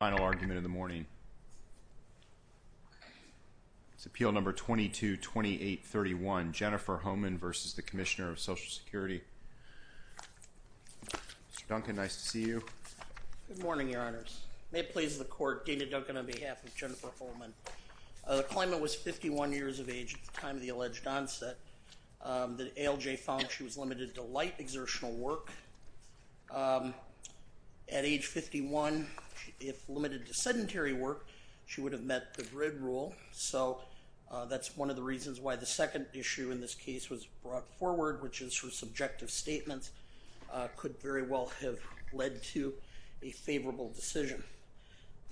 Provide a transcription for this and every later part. Final argument of the morning is Appeal No. 222831, Jennifer Hohman v. the Commissioner of Social Security. Mr. Duncan, nice to see you. Good morning, Your Honors. May it please the Court, Dana Duncan on behalf of Jennifer Hohman. The claimant was 51 years of age at the time of the alleged onset. The ALJ found she was limited to light exertional work. At age 51, if limited to sedentary work, she would have met the GRID rule, so that's one of the reasons why the second issue in this case was brought forward, which is her subjective statements could very well have led to a favorable decision.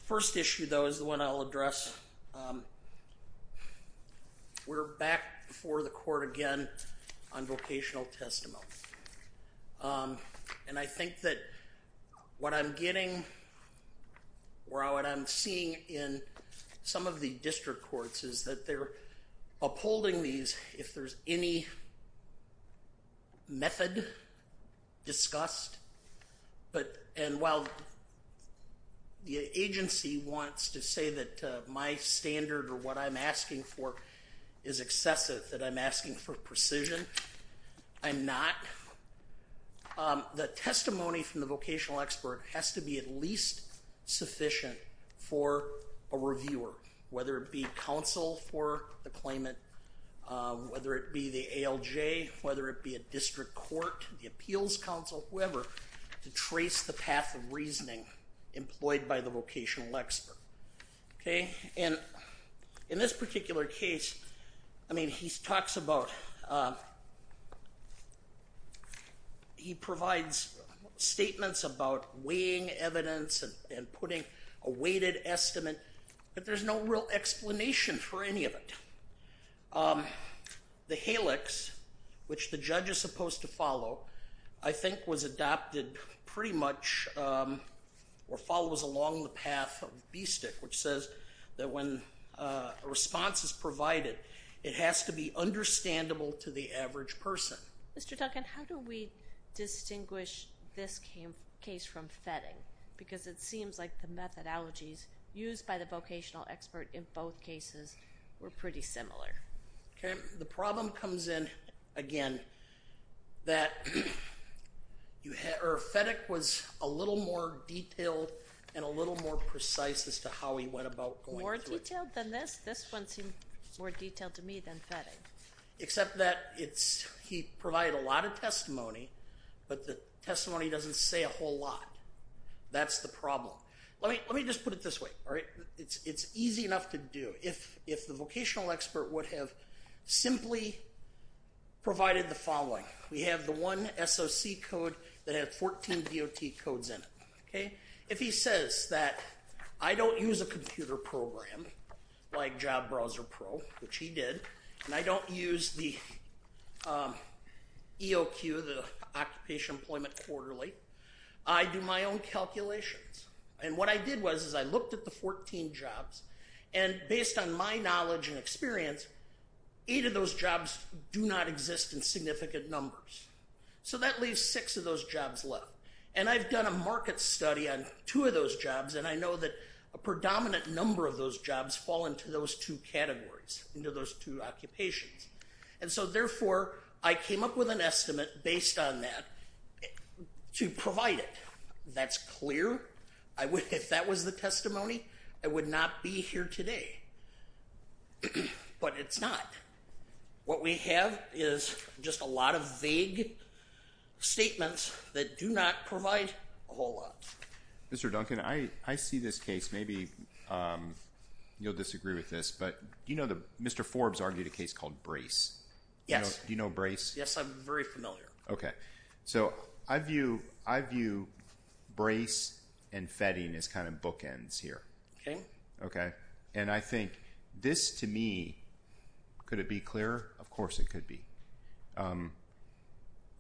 First issue, though, is the one I'll address. We're back before the Court again on vocational testimony. And I think that what I'm getting or what I'm seeing in some of the district courts is that they're upholding these if there's any method discussed. And while the agency wants to say that my standard or what I'm asking for is excessive, that I'm asking for precision, I'm not. The testimony from the vocational expert has to be at least sufficient for a reviewer, whether it be counsel for the claimant, whether it be the ALJ, whether it be a district court, the appeals counsel, whoever, to trace the path of reasoning employed by the vocational expert. And in this particular case, he provides statements about weighing evidence and putting a weighted estimate, but there's no real explanation for any of it. The HALEX, which the judge is supposed to follow, I think was adopted pretty much or follows along the path of BSTIC, which says that when a response is provided, it has to be understandable to the average person. Mr. Duncan, how do we distinguish this case from FETTING? Because it seems like the methodologies used by the vocational expert in both cases were pretty similar. Okay. The problem comes in, again, that FETTING was a little more detailed and a little more precise as to how he went about going through it. More detailed than this? This one seemed more detailed to me than FETTING. Except that he provided a lot of testimony, but the testimony doesn't say a whole lot. That's the problem. Let me just put it this way, all right? It's easy enough to do. If the vocational expert would have simply provided the following, we have the one SOC code that had 14 DOT codes in it, okay? If he says that I don't use a computer program like Job Browser Pro, which he did, and I don't use the EOQ, the Occupational Employment Quarterly, I do my own calculations. And what I did was, is I looked at the 14 jobs, and based on my knowledge and experience, eight of those jobs do not exist in significant numbers. So that leaves six of those jobs left. And I've done a market study on two of those jobs, and I know that a predominant number of those jobs fall into those two categories, into those two occupations. And so therefore, I came up with an estimate based on that to provide it. That's clear. I would, if that was the testimony, I would not be here today. But it's not. What we have is just a lot of vague statements that do not provide a whole lot. Mr. Duncan, I see this case, maybe you'll disagree with this, but do you know that Mr. Forbes argued a case called Brace? Yes. Do you know Brace? Yes, I'm very familiar. Okay. So I view Brace and Fetting as kind of bookends here. And I think this, to me, could it be clearer? Of course it could be.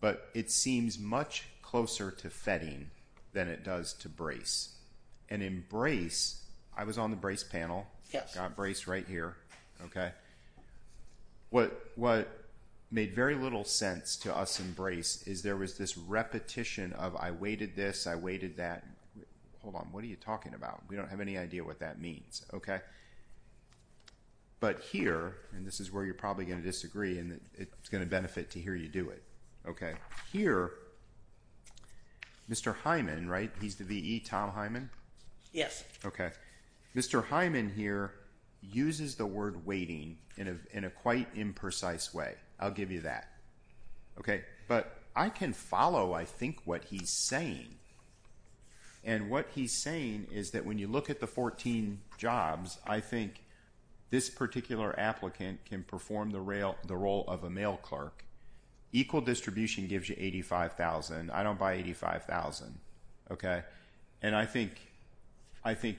But it seems much closer to Fetting than it does to Brace. And in Brace, I was on the Brace panel, got Brace right here. Okay. What made very little sense to us in Brace is there was this repetition of I waited this, I waited that. Hold on. What are you talking about? We don't have any idea what that means, okay? But here, and this is where you're probably going to disagree, and it's going to benefit to hear you do it, okay, here, Mr. Hyman, right, he's the VE, Tom Hyman? Yes. Okay. Mr. Hyman here uses the word waiting in a quite imprecise way. I'll give you that, okay? But I can follow, I think, what he's saying. And what he's saying is that when you look at the 14 jobs, I think this particular applicant can perform the role of a mail clerk. Equal distribution gives you $85,000. I don't buy $85,000, okay? And I think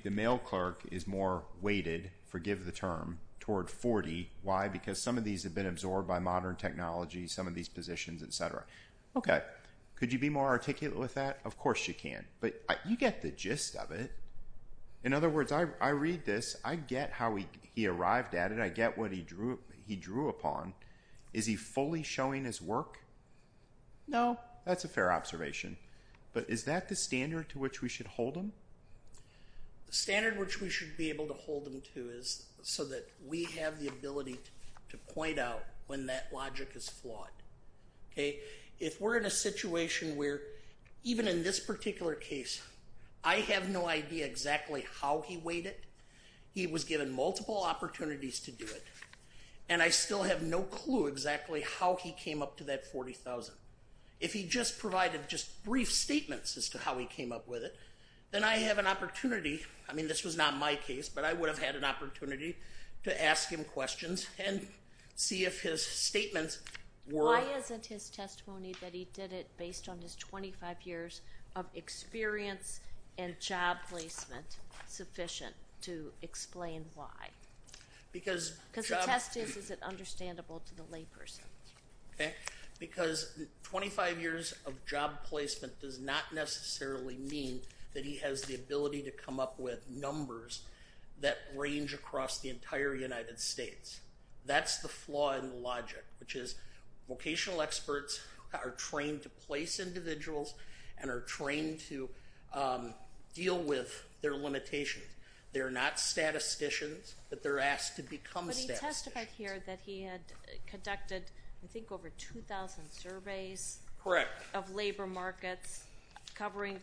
the mail clerk is more weighted, forgive the term, toward $40,000. Why? Because some of these have been absorbed by modern technology, some of these positions, et cetera. Okay. Could you be more articulate with that? Of course you can. But you get the gist of it. In other words, I read this, I get how he arrived at it, I get what he drew upon. Is he fully showing his work? No. That's a fair observation. But is that the standard to which we should hold him? The standard which we should be able to hold him to is so that we have the ability to point out when that logic is flawed. Okay? If we're in a situation where, even in this particular case, I have no idea exactly how he weighed it, he was given multiple opportunities to do it, and I still have no clue exactly how he came up to that $40,000. If he just provided just brief statements as to how he came up with it, then I have an opportunity, I mean, this was not my case, but I would have had an opportunity to ask him questions and see if his statements were... Why isn't his testimony that he did it based on his 25 years of experience and job placement sufficient to explain why? Because... Because the test is, is it understandable to the layperson? Okay. Because 25 years of job placement does not necessarily mean that he has the ability to come up with numbers that range across the entire United States. That's the flaw in the logic, which is vocational experts are trained to place individuals and are trained to deal with their limitations. They're not statisticians, but they're asked to become statisticians. But he testified here that he had conducted, I think, over 2,000 surveys of labor markets covering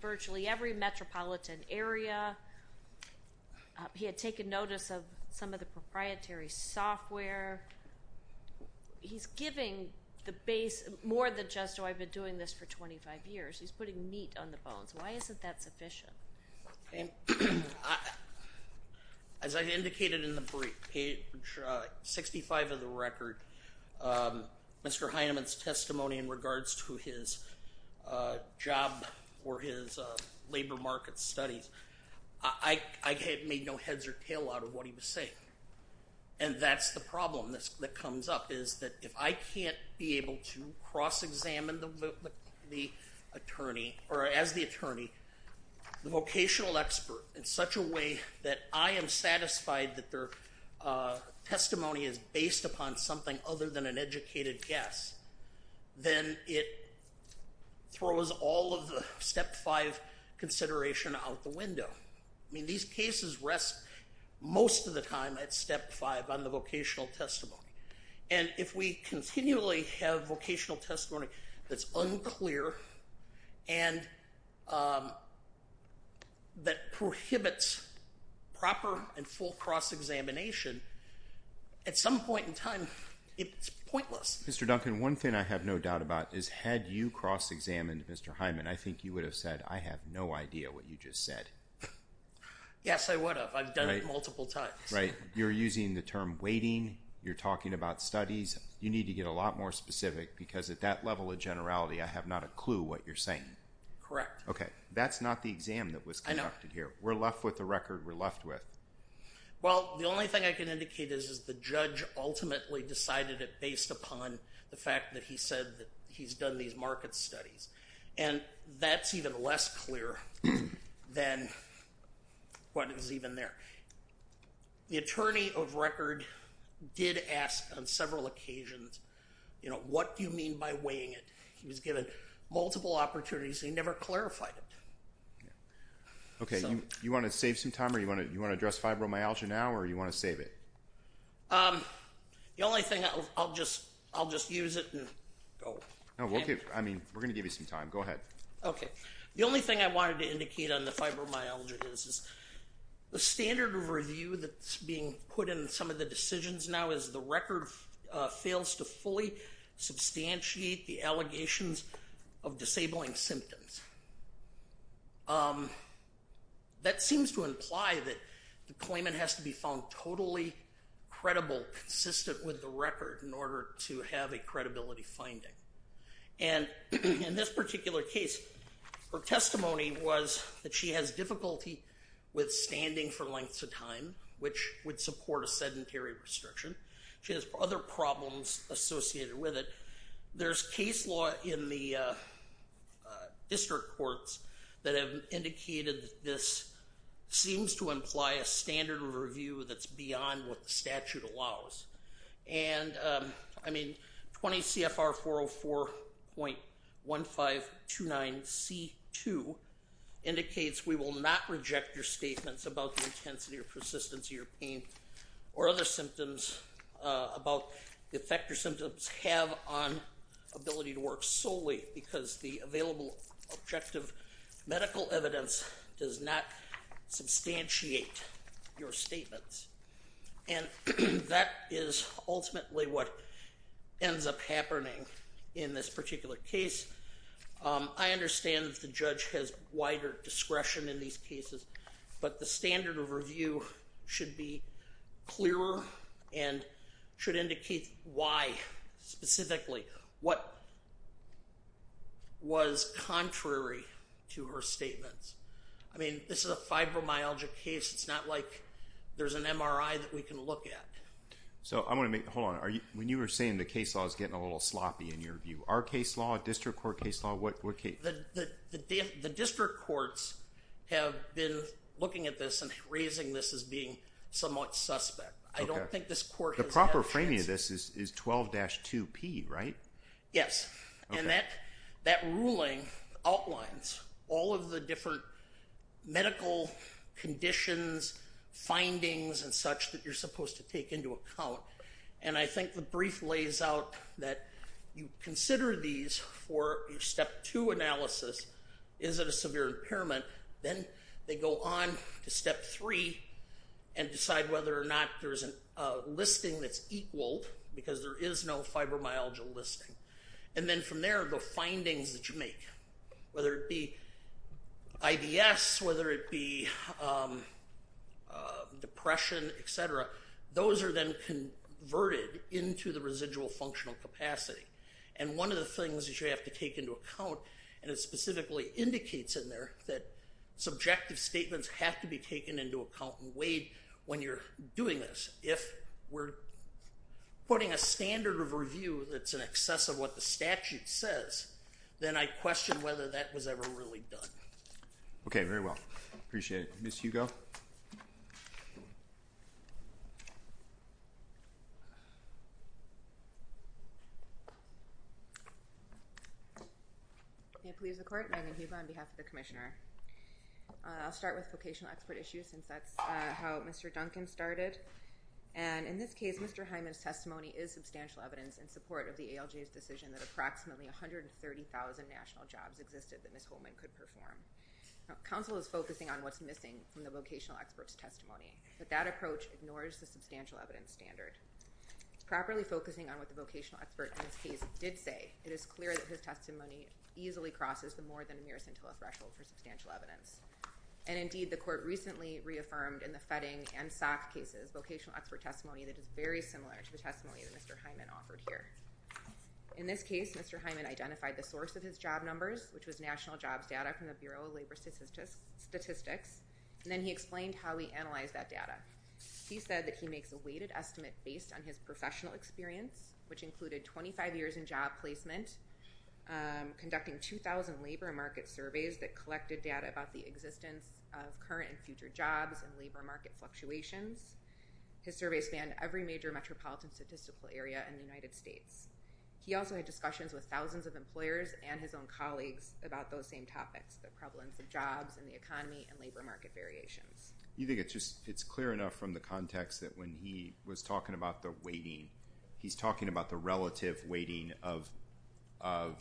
virtually every metropolitan area. He had taken notice of some of the proprietary software. He's giving the base, more than just, oh, I've been doing this for 25 years, he's putting meat on the bones. Why isn't that sufficient? Okay. I... As I indicated in the brief, page 65 of the record, Mr. Heinemann's testimony in regards to his job or his labor market studies, I made no heads or tail out of what he was saying. And that's the problem that comes up, is that if I can't be able to cross-examine the attorney, or as the attorney, the vocational expert in such a way that I am satisfied that their testimony is based upon something other than an educated guess, then it throws all of the step five consideration out the window. I mean, these cases rest most of the time at step five on the vocational testimony. And if we continually have vocational testimony that's unclear and that prohibits proper and full cross-examination, at some point in time, it's pointless. Mr. Duncan, one thing I have no doubt about is, had you cross-examined Mr. Heinemann, I think you would have said, I have no idea what you just said. Yes, I would have. I've done it multiple times. Right. You're using the term waiting. You're talking about studies. You need to get a lot more specific, because at that level of generality, I have not a clue what you're saying. Correct. Okay. That's not the exam that was conducted here. I know. We're left with the record we're left with. Well, the only thing I can indicate is, is the judge ultimately decided it based upon the fact that he said that he's done these market studies. And that's even less clear than what is even there. The attorney of record did ask on several occasions, you know, what do you mean by weighing it? He was given multiple opportunities, and he never clarified it. Okay. You want to save some time, or you want to address fibromyalgia now, or you want to save it? The only thing, I'll just use it and go. No, we'll give, I mean, we're going to give you some time. Go ahead. Okay. The only thing I wanted to indicate on the fibromyalgia is, is the standard of review that's being put in some of the decisions now is the record fails to fully substantiate the allegations of disabling symptoms. That seems to imply that the claimant has to be found totally credible, consistent with the record in order to have a credibility finding. And in this particular case, her testimony was that she has difficulty with standing for lengths of time, which would support a sedentary restriction. She has other problems associated with it. There's case law in the district courts that have indicated that this seems to imply a standard of review that's beyond what the statute allows. And, I mean, 20 CFR 404.1529C2 indicates we will not reject your statements about the intensity or persistence of your pain or other symptoms about the effect your symptoms have on ability to work solely because the available objective medical evidence does not substantiate your statements. And that is ultimately what ends up happening in this particular case. I understand that the judge has wider discretion in these cases, but the standard of review should be clearer and should indicate why specifically, what was contrary to her statements. I mean, this is a fibromyalgia case. It's not like there's an MRI that we can look at. So I'm going to make, hold on, when you were saying the case law is getting a little sloppy in your view, our case law, district court case law, what case? The district courts have been looking at this and raising this as being somewhat suspect. I don't think this court has had a chance. The proper framing of this is 12-2P, right? Yes. And that ruling outlines all of the different medical conditions, findings, and such that you're supposed to take into account. And I think the brief lays out that you consider these for your step two analysis, is it a severe impairment? Then they go on to step three and decide whether or not there's a listing that's equaled because there is no fibromyalgia listing. And then from there, the findings that you make, whether it be IBS, whether it be depression, et cetera, those are then converted into the residual functional capacity. And one of the things that you have to take into account, and it specifically indicates in there that subjective statements have to be taken into account and weighed when you're doing this. If we're putting a standard of review that's in excess of what the statute says, then I question whether that was ever really done. Okay, very well. Appreciate it. Ms. Hugo? May it please the Court, Megan Hugo on behalf of the Commissioner. I'll start with vocational expert issues since that's how Mr. Duncan started. And in this case, Mr. Hyman's testimony is substantial evidence in support of the ALJ's decision that approximately 130,000 national jobs existed that Ms. Holman could perform. Counsel is focusing on what's missing from the vocational expert's testimony, but that approach ignores the substantial evidence standard. Properly focusing on what the vocational expert in this case did say, it is clear that his And indeed, the Court recently reaffirmed in the Fetting and Sock cases vocational expert testimony that is very similar to the testimony that Mr. Hyman offered here. In this case, Mr. Hyman identified the source of his job numbers, which was national jobs data from the Bureau of Labor Statistics, and then he explained how he analyzed that data. He said that he makes a weighted estimate based on his professional experience, which data about the existence of current and future jobs and labor market fluctuations. His survey spanned every major metropolitan statistical area in the United States. He also had discussions with thousands of employers and his own colleagues about those same topics, the prevalence of jobs and the economy and labor market variations. You think it's clear enough from the context that when he was talking about the weighting, of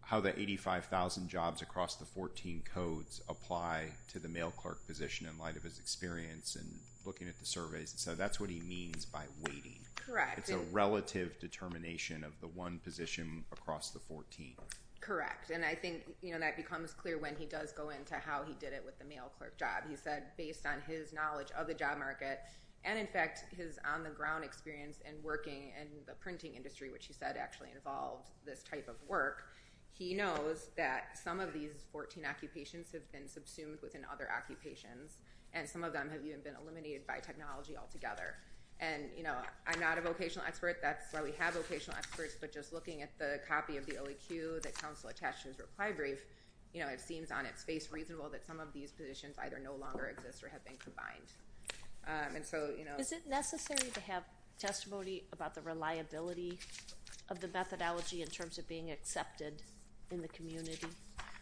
how the 85,000 jobs across the 14 codes apply to the mail clerk position in light of his experience and looking at the surveys, and so that's what he means by weighting. Correct. It's a relative determination of the one position across the 14. Correct. And I think that becomes clear when he does go into how he did it with the mail clerk job. He said based on his knowledge of the job market, and in fact, his on-the-ground experience and working in the printing industry, which he said actually involved this type of work, he knows that some of these 14 occupations have been subsumed within other occupations, and some of them have even been eliminated by technology altogether. And I'm not a vocational expert. That's why we have vocational experts, but just looking at the copy of the OEQ that Council attached to his reply brief, it seems on its face reasonable that some of these positions either no longer exist or have been combined. Is it necessary to have testimony about the reliability of the methodology in terms of being accepted in the community?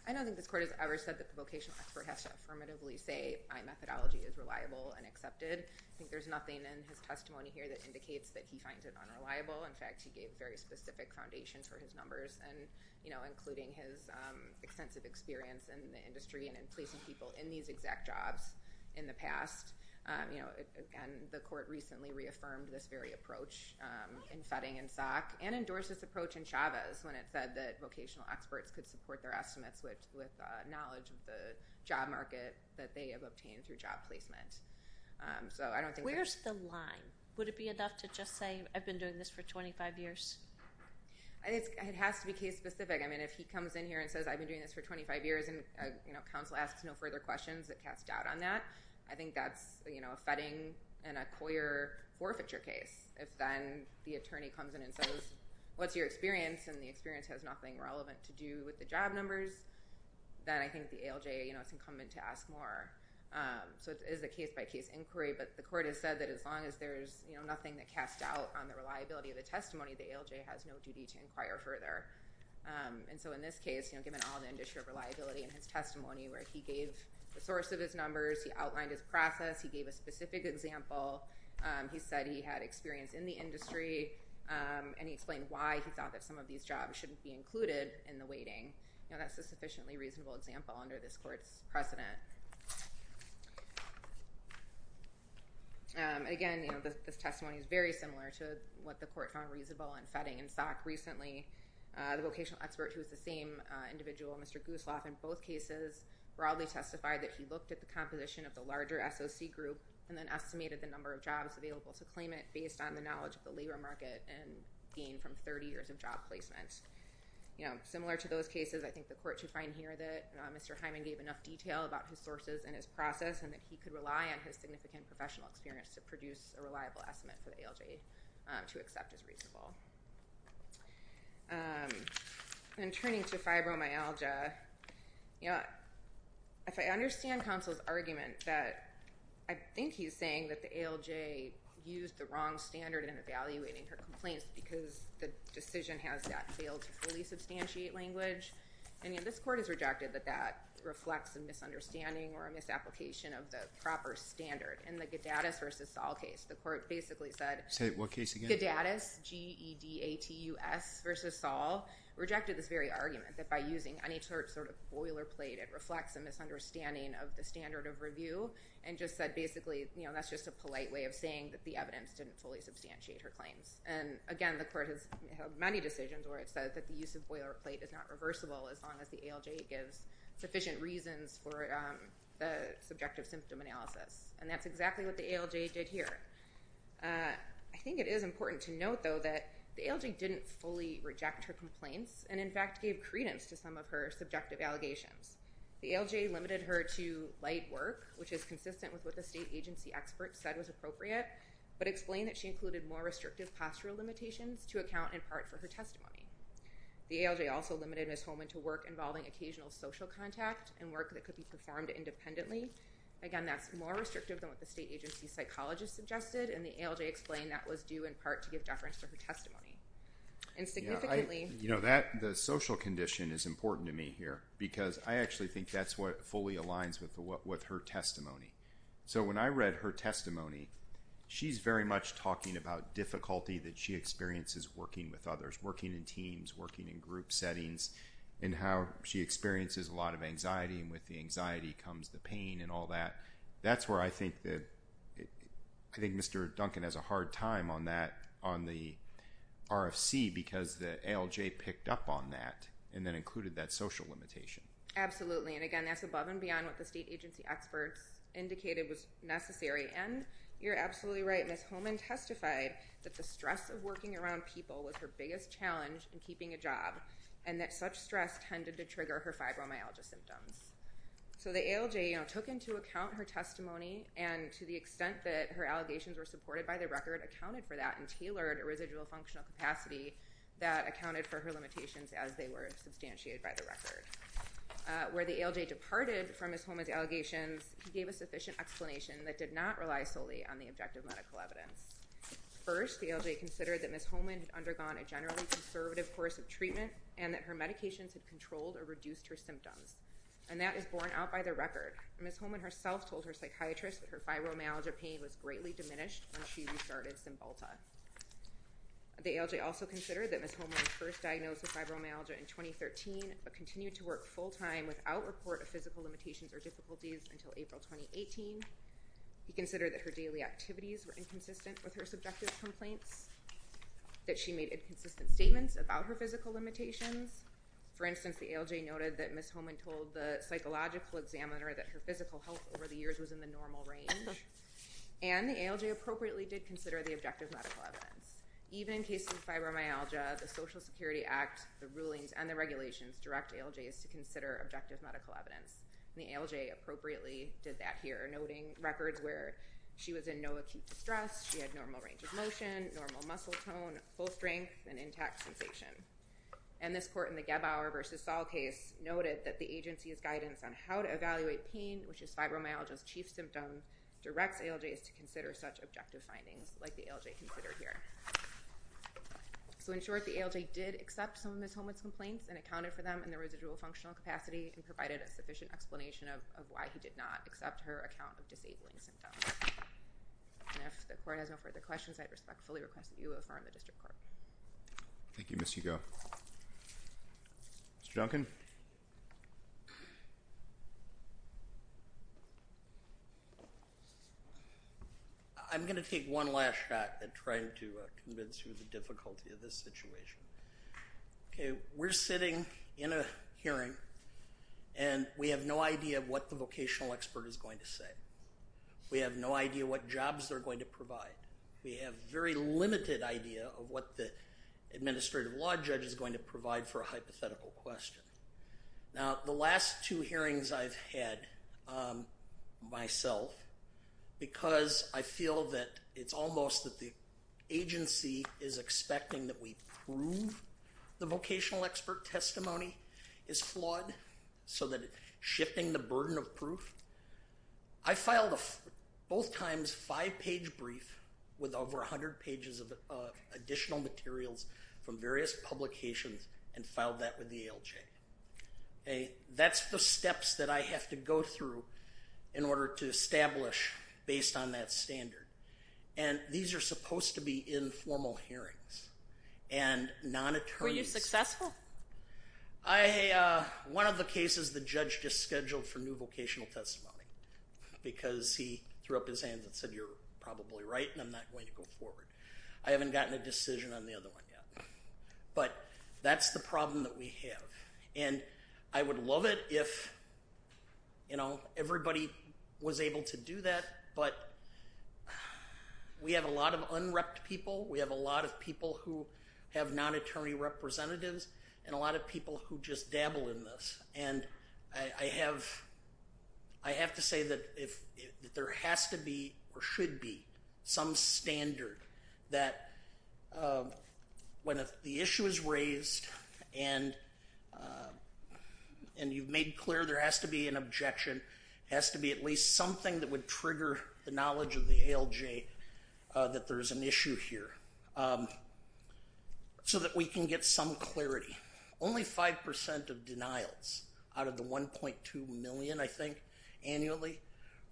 I don't think this Court has ever said that the vocational expert has to affirmatively say my methodology is reliable and accepted. I think there's nothing in his testimony here that indicates that he finds it unreliable. In fact, he gave very specific foundations for his numbers, including his extensive experience in the industry and in placing people in these exact jobs in the past. And the Court recently reaffirmed this very approach in Fetting and Sock, and endorsed this approach in Chavez when it said that vocational experts could support their estimates with knowledge of the job market that they have obtained through job placement. Where's the line? Would it be enough to just say, I've been doing this for 25 years? It has to be case-specific. I mean, if he comes in here and says, I've been doing this for 25 years, and counsel asks no further questions that cast doubt on that, I think that's a Fetting and a Coyer forfeiture case. If then the attorney comes in and says, what's your experience? And the experience has nothing relevant to do with the job numbers, then I think the ALJ, it's incumbent to ask more. So it is a case-by-case inquiry. But the Court has said that as long as there's nothing that casts doubt on the reliability of the testimony, the ALJ has no duty to inquire further. And so in this case, given all the industry of reliability in his testimony where he gave the source of his numbers, he outlined his process, he gave a specific example, he said he had experience in the industry, and he explained why he thought that some of these jobs shouldn't be included in the weighting, that's a sufficiently reasonable example under this Court's precedent. Again, you know, this testimony is very similar to what the Court found reasonable in Fetting and Sock recently. The vocational expert who was the same individual, Mr. Gooseloff, in both cases broadly testified that he looked at the composition of the larger SOC group and then estimated the number of jobs available to claim it based on the knowledge of the labor market and gain from 30 years of job placement. You know, similar to those cases, I think the Court should find here that Mr. Hyman gave enough detail about his sources and his process and that he could rely on his significant professional experience to produce a reliable estimate for the ALJ to accept as reasonable. And turning to fibromyalgia, you know, if I understand counsel's argument that I think he's saying that the ALJ used the wrong standard in evaluating her complaints because the decision has not failed to fully substantiate language. And, you know, this Court has rejected that that reflects a misunderstanding or a misapplication of the proper standard. In the Gadatus v. Saul case, the Court basically said— Say what case again? Gadatus, G-E-D-A-T-U-S v. Saul, rejected this very argument that by using any sort of boilerplate it reflects a misunderstanding of the standard of review and just said basically, you know, that's just a polite way of saying that the evidence didn't fully substantiate her claims. And, again, the Court has had many decisions where it says that the use of boilerplate is not reversible as long as the ALJ gives sufficient reasons for the subjective symptom analysis. And that's exactly what the ALJ did here. I think it is important to note, though, that the ALJ didn't fully reject her complaints and, in fact, gave credence to some of her subjective allegations. The ALJ limited her to light work, which is consistent with what the state agency experts said was appropriate, but explained that she included more restrictive postural limitations to account, in part, for her testimony. The ALJ also limited Ms. Holman to work involving occasional social contact and work that could be performed independently. Again, that's more restrictive than what the state agency psychologist suggested, and the ALJ explained that was due, in part, to give deference to her testimony. And significantly— You know, the social condition is important to me here because I actually think that's what fully aligns with her testimony. So, when I read her testimony, she's very much talking about difficulty that she experiences working with others, working in teams, working in group settings, and how she experiences a lot of anxiety, and with the anxiety comes the pain and all that. That's where I think Mr. Duncan has a hard time on the RFC because the ALJ picked up on that and then included that social limitation. Absolutely. And again, that's above and beyond what the state agency experts indicated was necessary. And you're absolutely right, Ms. Holman testified that the stress of working around people was her biggest challenge in keeping a job, and that such stress tended to trigger her fibromyalgia symptoms. So, the ALJ, you know, took into account her testimony, and to the extent that her allegations were supported by the record, accounted for that and tailored a residual functional capacity that accounted for her limitations as they were substantiated by the record. Where the ALJ departed from Ms. Holman's allegations, he gave a sufficient explanation that did not rely solely on the objective medical evidence. First, the ALJ considered that Ms. Holman had undergone a generally conservative course of treatment and that her medications had controlled or reduced her symptoms. And that is borne out by the record. Ms. Holman herself told her psychiatrist that her fibromyalgia pain was greatly diminished when she restarted Cymbalta. The ALJ also considered that Ms. Holman was first diagnosed with fibromyalgia in 2013 but continued to work full-time without report of physical limitations or difficulties until April 2018. He considered that her daily activities were inconsistent with her subjective complaints, that she made inconsistent statements about her physical limitations. For instance, the ALJ noted that Ms. Holman told the psychological examiner that her physical health over the years was in the normal range. And the ALJ appropriately did consider the objective medical evidence. Even in cases of fibromyalgia, the Social Security Act, the rulings, and the regulations direct ALJs to consider objective medical evidence. And the ALJ appropriately did that here, noting records where she was in no acute distress, she had normal range of motion, normal muscle tone, full strength, and intact sensation. And this court in the Gebauer v. Saul case noted that the agency's guidance on how to evaluate pain, which is fibromyalgia's chief symptom, directs ALJs to consider such objective findings like the ALJ considered here. So in short, the ALJ did accept some of Ms. Holman's complaints and accounted for them in the residual functional capacity and provided a sufficient explanation of why he did not accept her account of disabling symptoms. And if the court has no further questions, I respectfully request that you affirm the district court. Thank you, Ms. Hugo. Mr. Duncan? Thank you. I'm going to take one last shot at trying to convince you of the difficulty of this situation. Okay, we're sitting in a hearing and we have no idea what the vocational expert is going to say. We have no idea what jobs they're going to provide. We have very limited idea of what the administrative law judge is going to provide for a hypothetical question. Now, the last two hearings I've had myself because I feel that it's almost that the agency is expecting that we prove the vocational expert testimony is flawed so that it's shifting the burden of proof. I filed a both times five-page brief with over 100 pages of additional materials from the ALJ. That's the steps that I have to go through in order to establish based on that standard. And these are supposed to be informal hearings and non-attorneys. Were you successful? One of the cases the judge just scheduled for new vocational testimony because he threw up his hands and said you're probably right and I'm not going to go forward. I haven't gotten a decision on the other one yet. But that's the problem that we have. And I would love it if everybody was able to do that but we have a lot of unrept people. We have a lot of people who have non-attorney representatives and a lot of people who just dabble in this. And I have to say that there has to be or should be some standard that when the issue is raised and you've made clear there has to be an objection, has to be at least something that would trigger the knowledge of the ALJ that there's an issue here so that we can get some clarity. Only 5% of denials out of the 1.2 million I think annually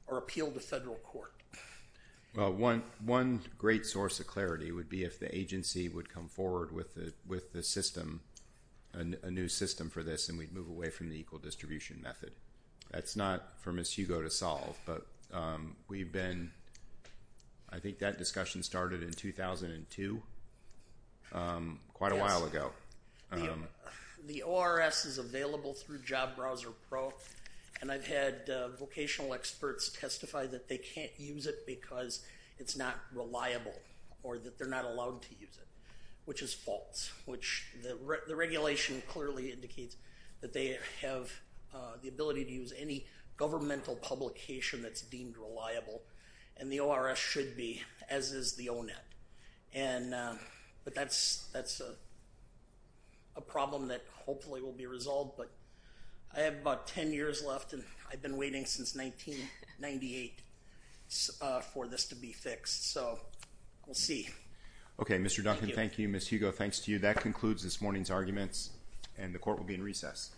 are appealed to federal court. Well one great source of clarity would be if the agency would come forward with the system, a new system for this and we'd move away from the equal distribution method. That's not for Ms. Hugo to solve but we've been, I think that discussion started in 2002 quite a while ago. The ORS is available through Job Browser Pro and I've had vocational experts testify that they can't use it because it's not reliable or that they're not allowed to use it, which is false. Which the regulation clearly indicates that they have the ability to use any governmental publication that's deemed reliable and the ORS should be as is the ONET. But that's a problem that hopefully will be resolved but I have about 10 years left and I've been waiting since 1998 for this to be fixed so we'll see. Okay Mr. Duncan, thank you. Ms. Hugo, thanks to you. That concludes this morning's arguments and the court will be in recess.